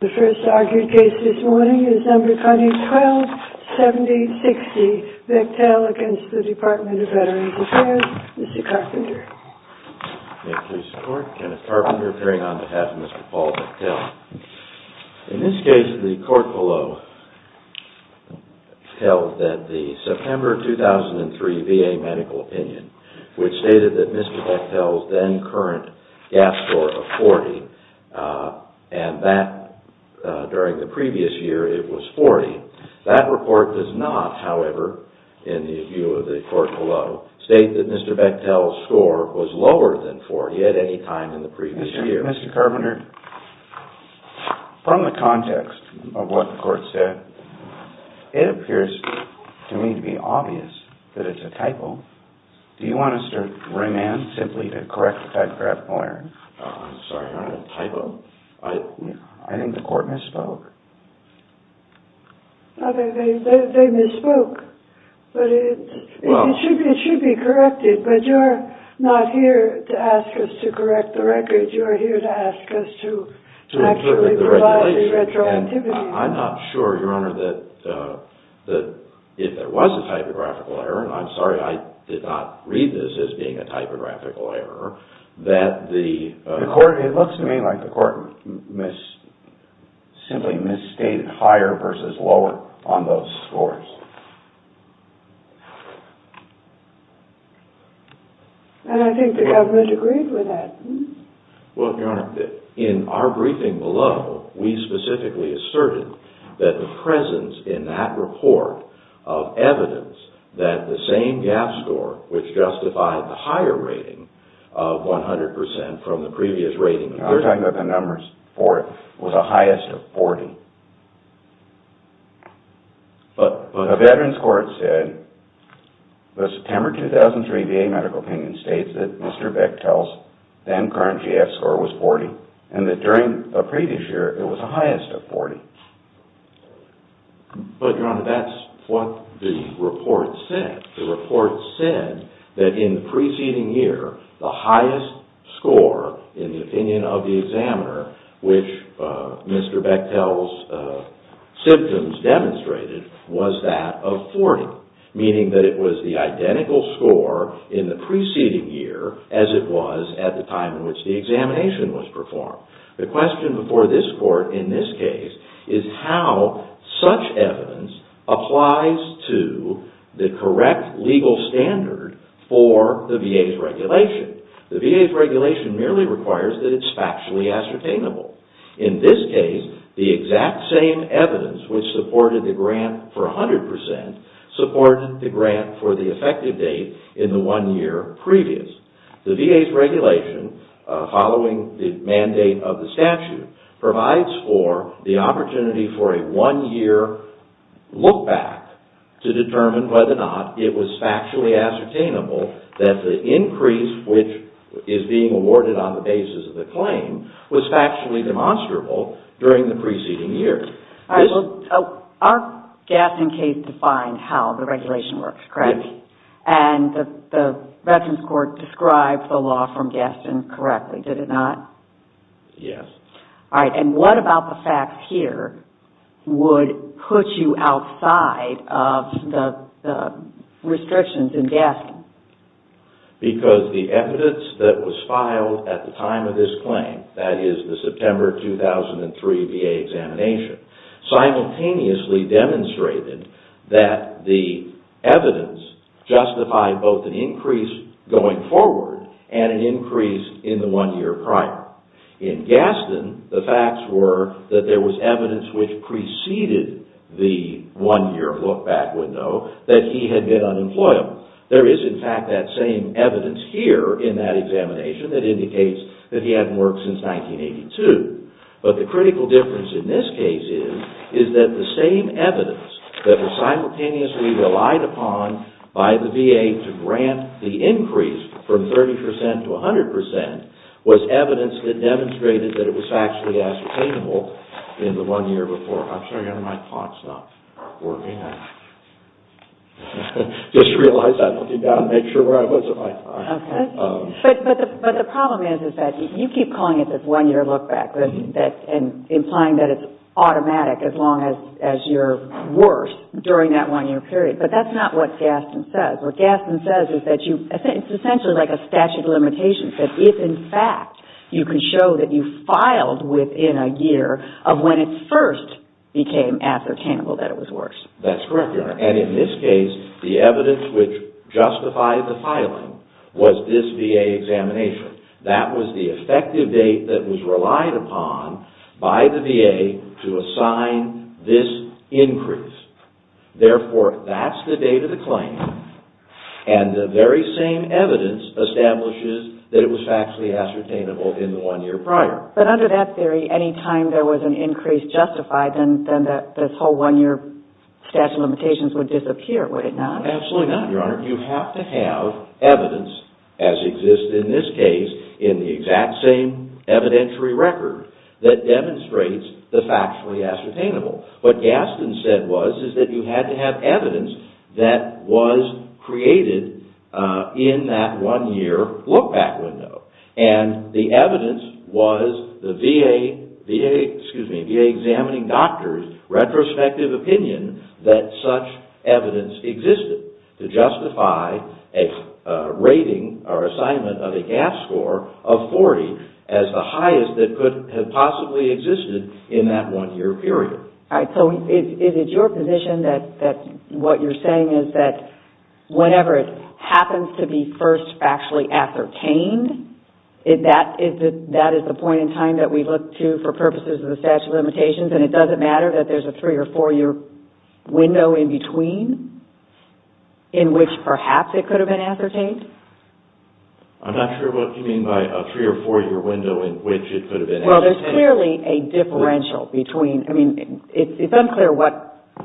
The first argued case this morning is No. 127060, Bechtel v. Department of Veterans Affairs, Mr. Carpenter. May it please the court, Kenneth Carpenter appearing on behalf of Mr. Paul Bechtel. In this case, the court below held that the September 2003 VA medical opinion, which stated that Mr. Bechtel's then current gas score of 40, and that during the previous year it was 40. That report does not, however, in the view of the court below, state that Mr. Bechtel's score was lower than 40 at any time in the previous year. Mr. Carpenter, from the context of what the court said, it appears to me to be obvious that it's a typo. Do you want us to remand simply to correct the typographical error? I'm sorry, Your Honor, a typo? I think the court misspoke. They misspoke. It should be corrected, but you're not here to ask us to correct the record. You're here to ask us to actually provide the retroactivity. I'm not sure, Your Honor, that if there was a typographical error, and I'm sorry I did not read this as being a typographical error, that the court It looks to me like the court simply misstated higher versus lower on those scores. And I think the government agreed with that. Well, Your Honor, in our briefing below, we specifically asserted that the presence in that report of evidence that the same GAAP score, which justified the higher rating of 100 percent from the previous rating I'm talking about the numbers for it, was the highest of 40. But a veteran's court said, the September 2003 VA medical opinion states that Mr. Bechtel's then current GAAP score was 40, and that during the previous year it was the highest of 40. But, Your Honor, that's what the report said. The report said that in the preceding year, the highest score in the opinion of the examiner, which Mr. Bechtel's symptoms demonstrated, was that of 40. Meaning that it was the identical score in the preceding year as it was at the time in which the examination was performed. The question before this court in this case is how such evidence applies to the correct legal standard for the VA's regulation. The VA's regulation merely requires that it's factually ascertainable. In this case, the exact same evidence, which supported the grant for 100 percent, supported the grant for the effective date in the one year previous. The VA's regulation, following the mandate of the statute, provides for the opportunity for a one-year look back to determine whether or not it was factually ascertainable that the increase, which is being awarded on the basis of the claim, was factually demonstrable during the preceding year. Our Gaston case defined how the regulation works, correct? Yes. And the Veterans Court described the law from Gaston correctly, did it not? Yes. All right. And what about the facts here would put you outside of the restrictions in Gaston? Because the evidence that was filed at the time of this claim, that is the September 2003 VA examination, simultaneously demonstrated that the evidence justified both an increase going forward and an increase in the one year prior. In Gaston, the facts were that there was evidence which preceded the one year look back window that he had been unemployable. There is, in fact, that same evidence here in that examination that indicates that he hadn't worked since 1982. But the critical difference in this case is that the same evidence that was simultaneously relied upon by the VA to grant the increase from 30% to 100% was evidence that demonstrated that it was factually ascertainable in the one year before. I'm sorry, my clock's not working. I just realized I looked it down to make sure where I was. But the problem is that you keep calling it this one year look back and implying that it's automatic as long as you're worse during that one year period. But that's not what Gaston says. What Gaston says is that it's essentially like a statute of limitations that if, in fact, you can show that you filed within a year of when it first became ascertainable that it was worse. That's correct, Your Honor. And in this case, the evidence which justified the filing was this VA examination. That was the effective date that was relied upon by the VA to assign this increase. Therefore, that's the date of the claim, and the very same evidence establishes that it was factually ascertainable in the one year prior. But under that theory, any time there was an increase justified, then this whole one year statute of limitations would disappear, would it not? Absolutely not, Your Honor. You have to have evidence, as exists in this case, in the exact same evidentiary record that demonstrates the factually ascertainable. What Gaston said was is that you had to have evidence that was created in that one year look-back window. And the evidence was the VA examining doctor's retrospective opinion that such evidence existed to justify a rating or assignment of a GAF score of 40 as the highest that could have possibly existed in that one year period. So is it your position that what you're saying is that whenever it happens to be first factually ascertained, that is the point in time that we look to for purposes of the statute of limitations, and it doesn't matter that there's a three or four year window in between in which perhaps it could have been ascertained? I'm not sure what you mean by a three or four year window in which it could have been ascertained. Well, there's clearly a differential between, I mean, it's unclear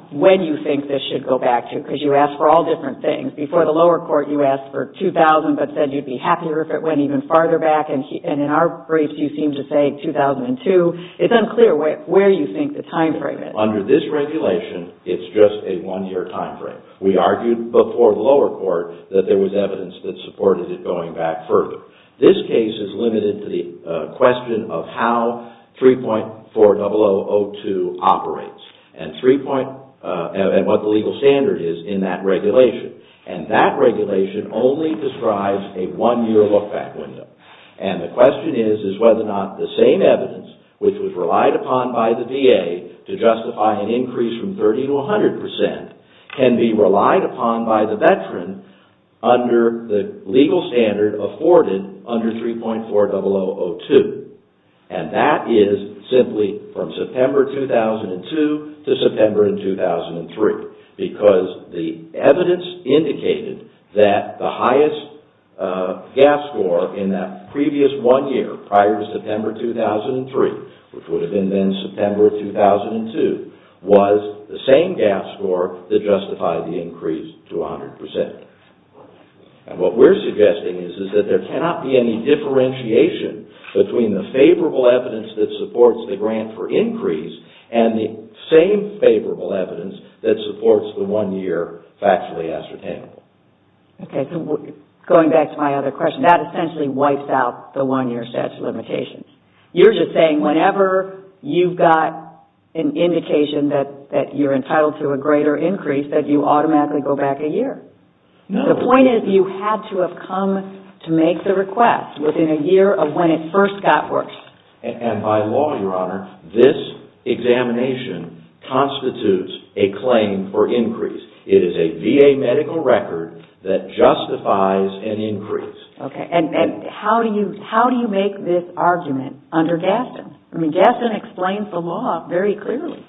when you think this should go back to, because you asked for all different things. Before the lower court, you asked for 2000, but said you'd be happier if it went even farther back. And in our briefs, you seem to say 2002. It's unclear where you think the time frame is. Under this regulation, it's just a one year time frame. We argued before the lower court that there was evidence that supported it going back further. This case is limited to the question of how 3.40002 operates and what the legal standard is in that regulation. And that regulation only describes a one year look back window. And the question is, is whether or not the same evidence, which was relied upon by the VA to justify an increase from 30% to 100%, can be relied upon by the veteran under the legal standard afforded under 3.40002. And that is simply from September 2002 to September 2003, because the evidence indicated that the highest gas score in that previous one year prior to September 2003, which would have been then September 2002, was the same gas score that justified the increase to 100%. And what we're suggesting is that there cannot be any differentiation between the favorable evidence that supports the grant for increase and the same favorable evidence that supports the one year factually ascertainable. Going back to my other question, that essentially wipes out the one year statute of limitations. You're just saying whenever you've got an indication that you're entitled to a greater increase, that you automatically go back a year. The point is you had to have come to make the request within a year of when it first got worked. And by law, Your Honor, this examination constitutes a claim for increase. It is a VA medical record that justifies an increase. Okay. And how do you make this argument under Gaston? I mean, Gaston explains the law very clearly.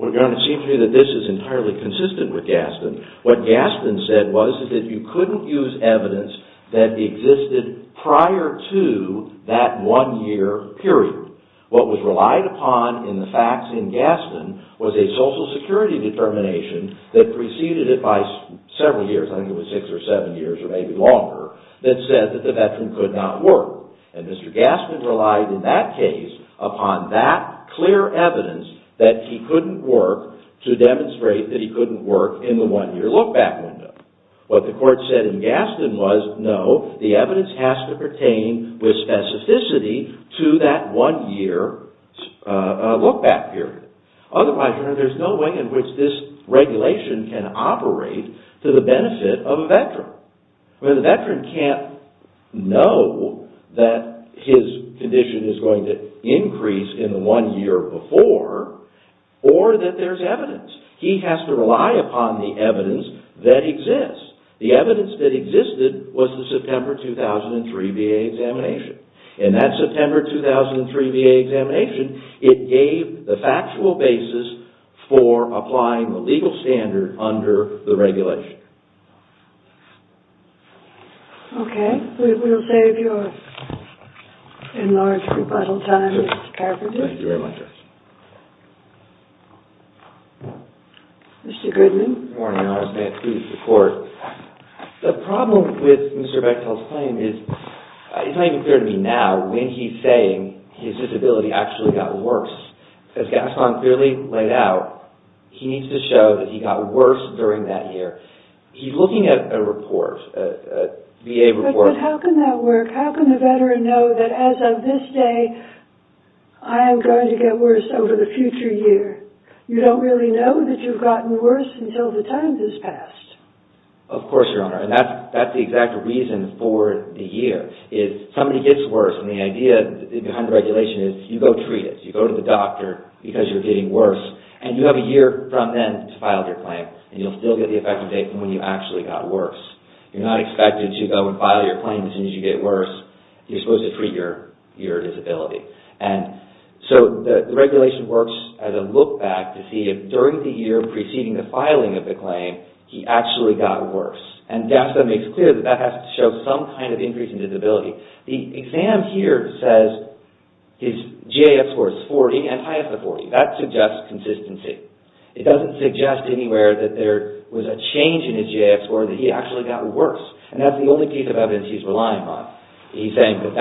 Well, Your Honor, it seems to me that this is entirely consistent with Gaston. What Gaston said was that you couldn't use evidence that existed prior to that one year period. What was relied upon in the facts in Gaston was a social security determination that preceded it by several years, I think it was six or seven years or maybe longer, that said that the veteran could not work. And Mr. Gaston relied in that case upon that clear evidence that he couldn't work to demonstrate that he couldn't work in the one year look back window. What the court said in Gaston was no, the evidence has to pertain with specificity to that one year look back period. Otherwise, Your Honor, there's no way in which this regulation can operate to the benefit of a veteran. The veteran can't know that his condition is going to increase in the one year before or that there's evidence. He has to rely upon the evidence that exists. The evidence that existed was the September 2003 VA examination. In that September 2003 VA examination, it gave the factual basis for applying the legal standard under the regulation. Okay, we will save your enlarged rebuttal time, Mr. Carpenter. Thank you very much. Mr. Goodman. Good morning, Your Honor. I stand to speak to the court. The problem with Mr. Bechtel's claim is it's not even clear to me now when he's saying his disability actually got worse. As Gaston clearly laid out, he needs to show that he got worse during that year. He's looking at a report, a VA report. But how can that work? How can the veteran know that as of this day, I am going to get worse over the future year? You don't really know that you've gotten worse until the time has passed. Of course, Your Honor. That's the exact reason for the year. If somebody gets worse, and the idea behind the regulation is you go treat it. You go to the doctor because you're getting worse, and you have a year from then to file your claim, and you'll still get the effective date from when you actually got worse. You're not expected to go and file your claim as soon as you get worse. You're supposed to treat your disability. The regulation works as a look back to see if during the year preceding the filing of the claim, he actually got worse. Gaston makes clear that that has to show some kind of increase in disability. The exam here says his GAF score is 40 and higher than 40. That suggests consistency. It doesn't suggest anywhere that there was a change in his GAF score, that he actually got worse. That's the only piece of evidence he's relying on. He's saying that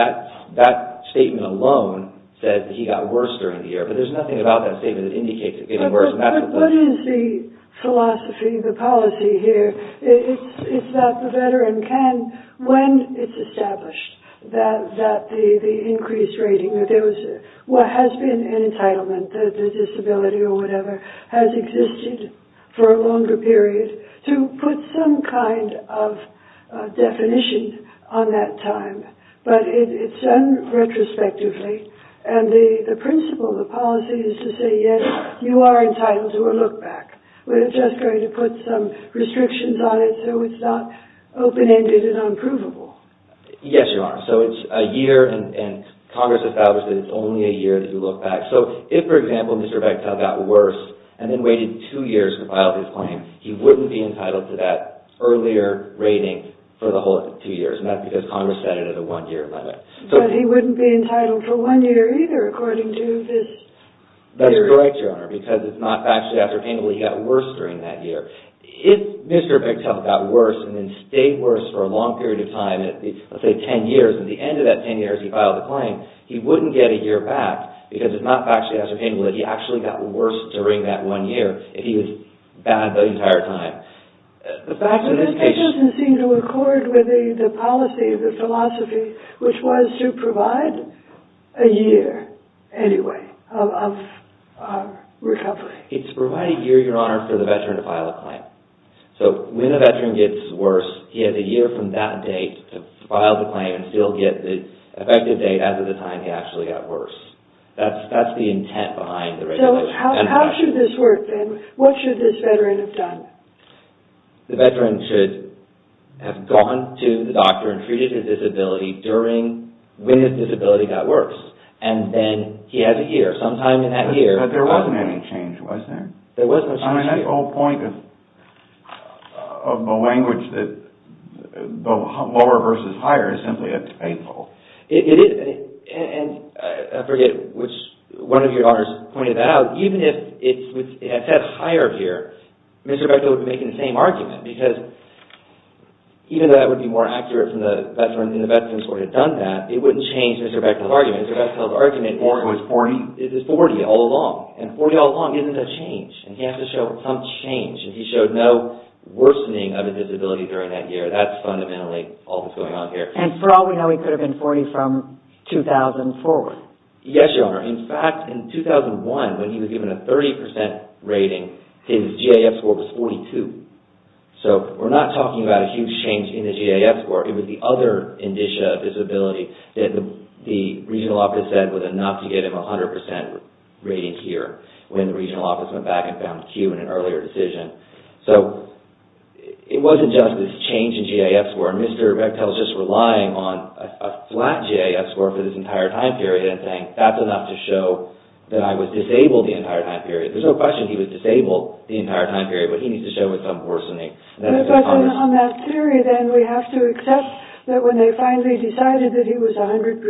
that statement alone said that he got worse during the year, but there's nothing about that statement that indicates he's getting worse. What is the philosophy, the policy here? It's that the veteran can, when it's established that the increased rating, that there has been an entitlement, the disability or whatever, has existed for a longer period to put some kind of definition on that time, but it's done retrospectively. The principle, the policy is to say, yes, you are entitled to a look back. We're just going to put some restrictions on it so it's not open-ended and unprovable. Yes, Your Honor. It's a year, and Congress established that it's only a year to do a look back. If, for example, Mr. Bechtel got worse and then waited two years to file his claim, he wouldn't be entitled to that earlier rating for the whole two years, and that's because Congress set it at a one-year limit. But he wouldn't be entitled for one year either, according to this theory. That's correct, Your Honor, because it's not factually ascertainable he got worse during that year. If Mr. Bechtel got worse and then stayed worse for a long period of time, let's say ten years, and at the end of that ten years he filed the claim, he wouldn't get a year back because it's not factually ascertainable that he actually got worse during that one year if he was bad the entire time. But that doesn't seem to accord with the policy, the philosophy, which was to provide a year, anyway, of recovery. It's to provide a year, Your Honor, for the veteran to file a claim. So when a veteran gets worse, he has a year from that date to file the claim and still get the effective date as of the time he actually got worse. That's the intent behind the regulation. So how should this work, then? What should this veteran have done? The veteran should have gone to the doctor and treated his disability when his disability got worse, and then he has a year. Sometime in that year... But there wasn't any change, was there? There was no change. I mean, that whole point of the language that lower versus higher is simply unfaithful. It is, and I forget which one of your honors pointed that out. Even if it had said higher here, Mr. Bechtel would be making the same argument, because even though that would be more accurate from the veteran, and the veterans would have done that, it wouldn't change Mr. Bechtel's argument. Mr. Bechtel's argument... Or it was 40. It was 40 all along, and 40 all along isn't a change. He has to show some change, and he showed no worsening of his disability during that year. That's fundamentally all that's going on here. And for all we know, he could have been 40 from 2004. Yes, Your Honor. In fact, in 2001, when he was given a 30% rating, his GAF score was 42. So we're not talking about a huge change in the GAF score. It was the other indicia of disability that the regional office said was enough to get him a 100% rating here, when the regional office went back and found Q in an earlier decision. So it wasn't just this change in GAF score. Mr. Bechtel's just relying on a flat GAF score for this entire time period, and saying that's enough to show that I was disabled the entire time period. There's no question he was disabled the entire time period, but he needs to show some worsening. But on that theory, then, we have to accept that when they finally decided that he was 100%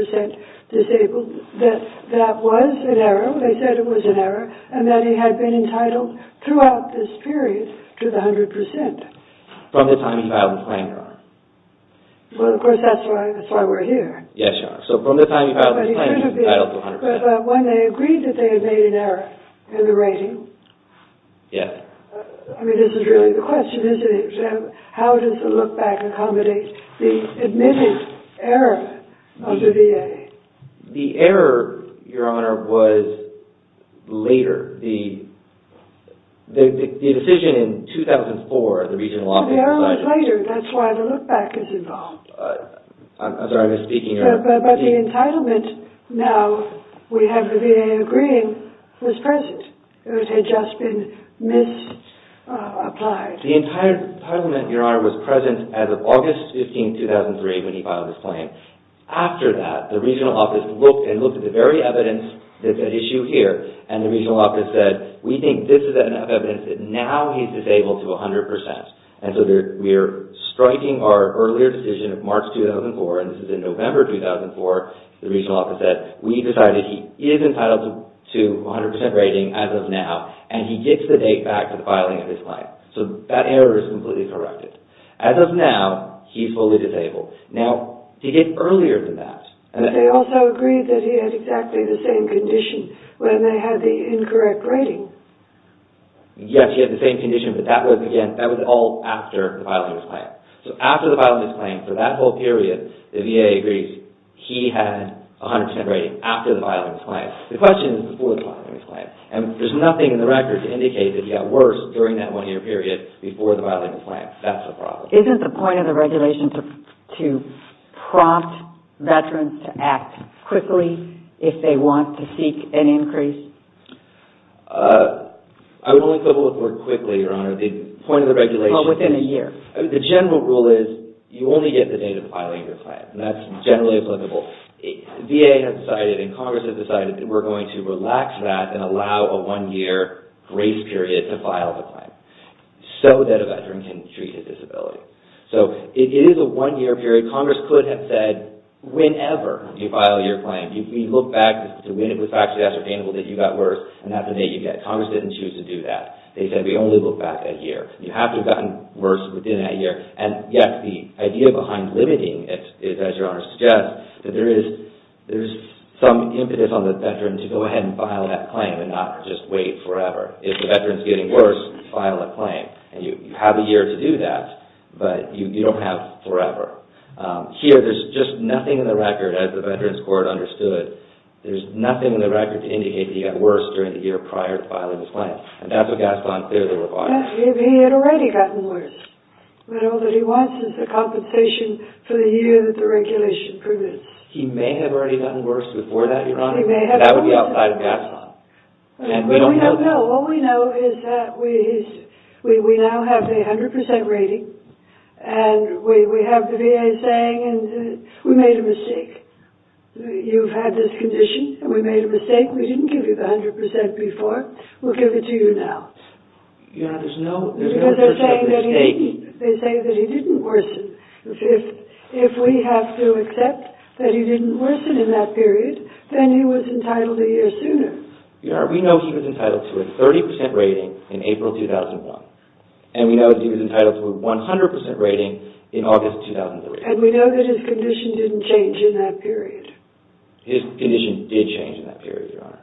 disabled, that that was an error, they said it was an error, and that he had been entitled throughout this period to the 100%. From the time he filed the claim, Your Honor. Well, of course, that's why we're here. Yes, Your Honor. So from the time he filed the claim, he was entitled to 100%. But when they agreed that they had made an error in the rating... Yes. I mean, this is really the question, isn't it? How does the look-back accommodate the admitted error of the VA? The error, Your Honor, was later. The decision in 2004, the regional office decided... The error was later. That's why the look-back is involved. I'm sorry, I'm just speaking, Your Honor. But the entitlement now, we have the VA agreeing, was present. It had just been misapplied. The entire parliament, Your Honor, was present as of August 15, 2003, when he filed his claim. After that, the regional office looked and looked at the very evidence that's at issue here, and the regional office said, we think this is enough evidence that now he's disabled to 100%. And so we're striking our earlier decision of March 2004, and this is in November 2004, the regional office said, we decided he is entitled to 100% rating as of now, and he gets the date back to the filing of his claim. So that error is completely corrected. As of now, he's fully disabled. Now, to get earlier than that... But they also agreed that he had exactly the same condition when they had the incorrect rating. Yes, he had the same condition, but that was, again, that was all after the filing of his claim. So after the filing of his claim, for that whole period, the VA agrees he had 100% rating after the filing of his claim. The question is before the filing of his claim, and there's nothing in the record to indicate that he got worse during that one-year period before the filing of his claim. That's the problem. Isn't the point of the regulation to prompt veterans to act quickly if they want to seek an increase? I would only go forward quickly, Your Honor. The point of the regulation... Well, within a year. The general rule is you only get the date of filing of your claim, and that's generally applicable. VA has decided and Congress has decided that we're going to relax that and allow a one-year grace period to file the claim so that a veteran can treat his disability. So it is a one-year period. Congress could have said, whenever you file your claim, we look back to when it was actually ascertainable that you got worse and that's the date you get. Congress didn't choose to do that. They said we only look back a year. You have to have gotten worse within that year, and yet the idea behind limiting it is, as Your Honor suggests, that there is some impetus on the veteran to go ahead and file that claim and not just wait forever. If the veteran's getting worse, file that claim. You have a year to do that, but you don't have forever. Here, there's just nothing in the record, as the Veterans Court understood. There's nothing in the record to indicate that he got worse during the year prior to filing his claim, and that's what Gaston clearly requires. He had already gotten worse, but all that he wants is the compensation for the year that the regulation permits. He may have already gotten worse before that, Your Honor. That would be outside of Gaston. What we know is that we now have the 100% rating, and we have the VA saying we made a mistake. You've had this condition, and we made a mistake. We didn't give you the 100% before. We'll give it to you now. Your Honor, there's no... Because they're saying that he didn't worsen. If we have to accept that he didn't worsen in that period, then he was entitled a year sooner. Your Honor, we know he was entitled to a 30% rating in April 2001, and we know that he was entitled to a 100% rating in August 2003. And we know that his condition didn't change in that period. His condition did change in that period, Your Honor.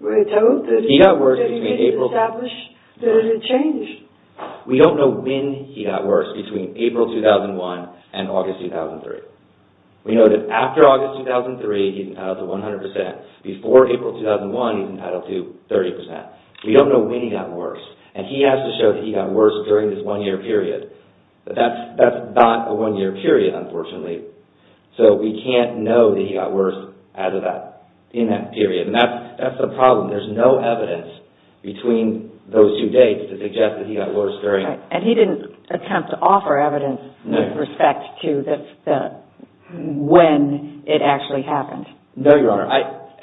Were you told that he had to establish that it had changed? We don't know when he got worse, between April 2001 and August 2003. We know that after August 2003, he was entitled to 100%. Before April 2001, he was entitled to 30%. We don't know when he got worse, and he has to show that he got worse during this one-year period. But that's not a one-year period, unfortunately. So we can't know that he got worse in that period. And that's the problem. There's no evidence between those two dates to suggest that he got worse during... And he didn't attempt to offer evidence with respect to when it actually happened. No, Your Honor.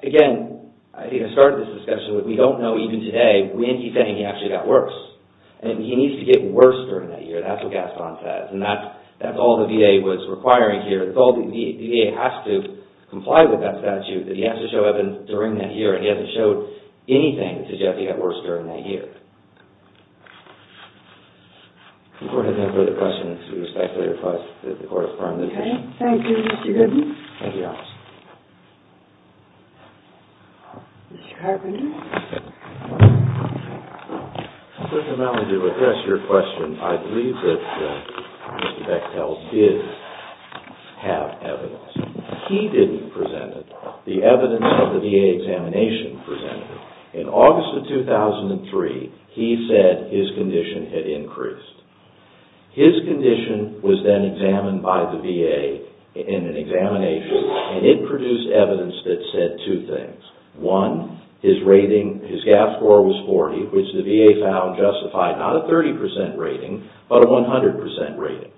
Again, I think I started this discussion with we don't know even today when he's saying he actually got worse. He needs to get worse during that year. That's what Gaston says, and that's all the VA was requiring here. It's all the VA has to comply with that statute that he has to show evidence during that year, and he hasn't showed anything to suggest he got worse during that year. The Court has no further questions. We respectfully request that the Court confirm this. Okay. Thank you, Mr. Goodman. Thank you, Your Honor. Mr. Carpenter. Judge O'Malley, to address your question, I believe that Mr. Bechtel did have evidence. He didn't present it. The evidence of the VA examination presented it. In August of 2003, he said his condition had increased. His condition was then examined by the VA in an examination, and it produced evidence that said two things. One, his rating, his GAF score was 40, which the VA found justified. Not a 30% rating, but a 100% rating.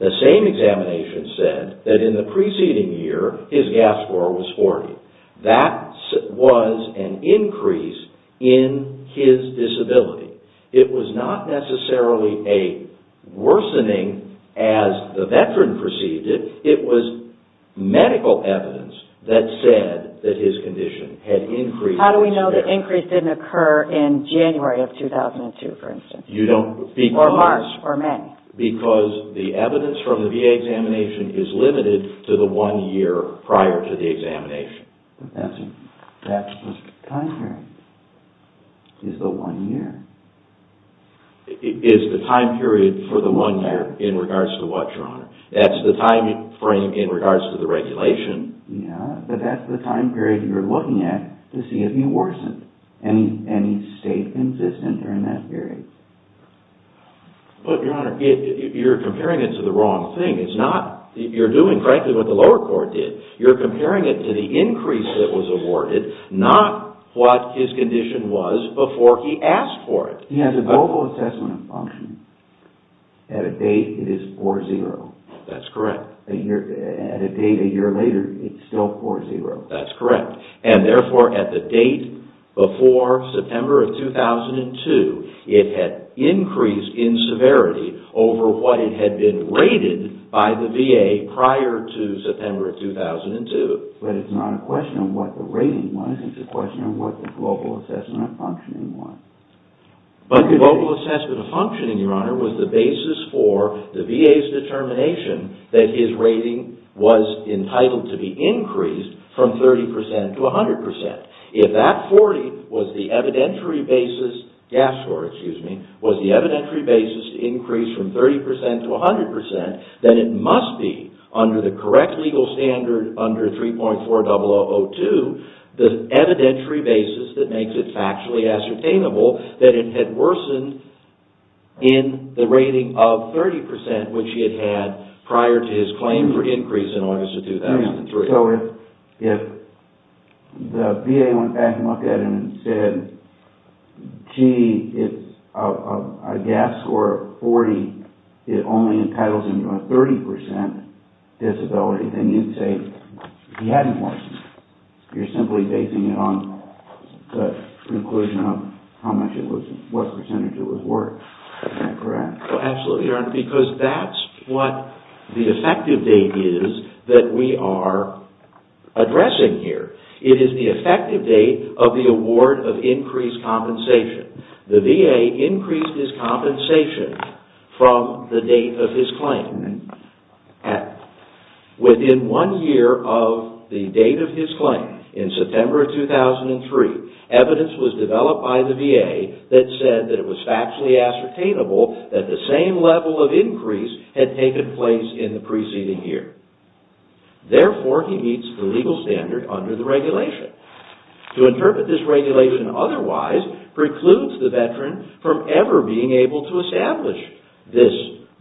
The same examination said that in the preceding year, his GAF score was 40. That was an increase in his disability. It was not necessarily a worsening as the veteran perceived it. It was medical evidence that said that his condition had increased. How do we know the increase didn't occur in January of 2002, for instance? Or March or May? Because the evidence from the VA examination is limited to the one year prior to the examination. That's the time period. It's the one year. It's the time period for the one year in regards to what, Your Honor? That's the time frame in regards to the regulation. Yeah, but that's the time period you're looking at to see if he worsened. And he stayed consistent during that period. But, Your Honor, you're comparing it to the wrong thing. You're doing, frankly, what the lower court did. You're comparing it to the increase that was awarded, not what his condition was before he asked for it. He has a global assessment of function. At a date, it is 4-0. That's correct. At a date a year later, it's still 4-0. That's correct. And, therefore, at the date before September of 2002, it had increased in severity over what it had been rated by the VA prior to September of 2002. But it's not a question of what the rating was. It's a question of what the global assessment of functioning was. But the global assessment of functioning, Your Honor, was the basis for the VA's determination that his rating was entitled to be increased from 30% to 100%. If that 40 was the evidentiary basis to increase from 30% to 100%, then it must be, under the correct legal standard under 3.4002, the evidentiary basis that makes it factually ascertainable that it had worsened in the rating of 30% which he had had prior to his claim for increase in August of 2003. So, if the VA went back and looked at it and said, gee, it's a gap score of 40, it only entitles him to a 30% disability, then you'd say he hadn't worsened. You're simply basing it on the conclusion of what percentage it was worth. Isn't that correct? Absolutely, Your Honor, because that's what the effective date is that we are addressing here. It is the effective date of the award of increased compensation. The VA increased his compensation from the date of his claim. Within one year of the date of his claim, in September of 2003, evidence was developed by the VA that said that it was factually ascertainable that the same level of increase had taken place in the preceding year. Therefore, he meets the legal standard under the regulation. To interpret this regulation otherwise precludes the veteran from ever being able to establish this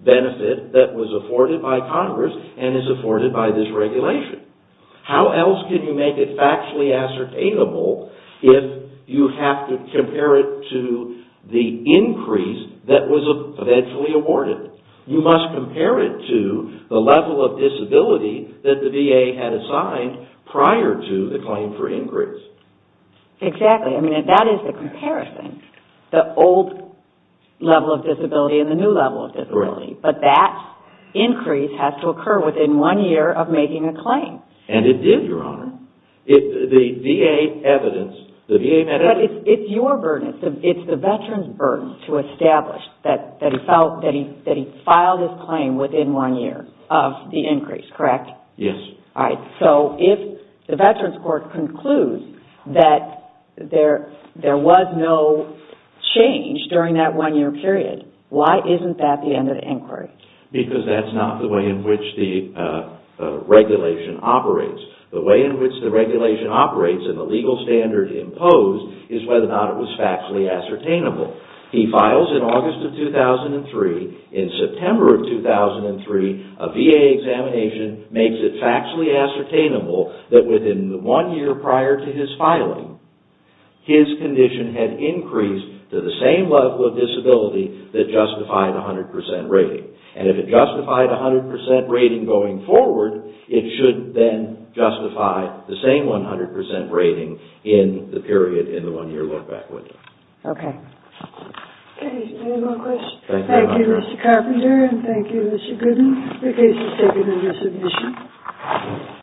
benefit that was afforded by Congress and is afforded by this regulation. How else can you make it factually ascertainable if you have to compare it to the increase that was eventually awarded? You must compare it to the level of disability that the VA had assigned prior to the claim for increase. Exactly. I mean, that is the comparison, the old level of disability and the new level of disability. But that increase has to occur within one year of making a claim. And it did, Your Honor. The VA evidence... But it's your burden. It's the veteran's burden to establish that he filed his claim within one year of the increase, correct? Yes. All right. So if the Veterans Court concludes that there was no change during that one-year period, why isn't that the end of the inquiry? Because that's not the way in which the regulation operates. The way in which the regulation operates and the legal standard imposed is whether or not it was factually ascertainable. He files in August of 2003. In September of 2003, a VA examination makes it factually ascertainable that within the one year prior to his filing, his condition had increased to the same level of disability that justified a 100% rating. And if it justified a 100% rating going forward, it should then justify the same 100% rating in the period in the one-year look-back window. Okay. Okay. Any more questions? Thank you, Mr. Carpenter, and thank you, Mr. Gooden. The case is taken under submission.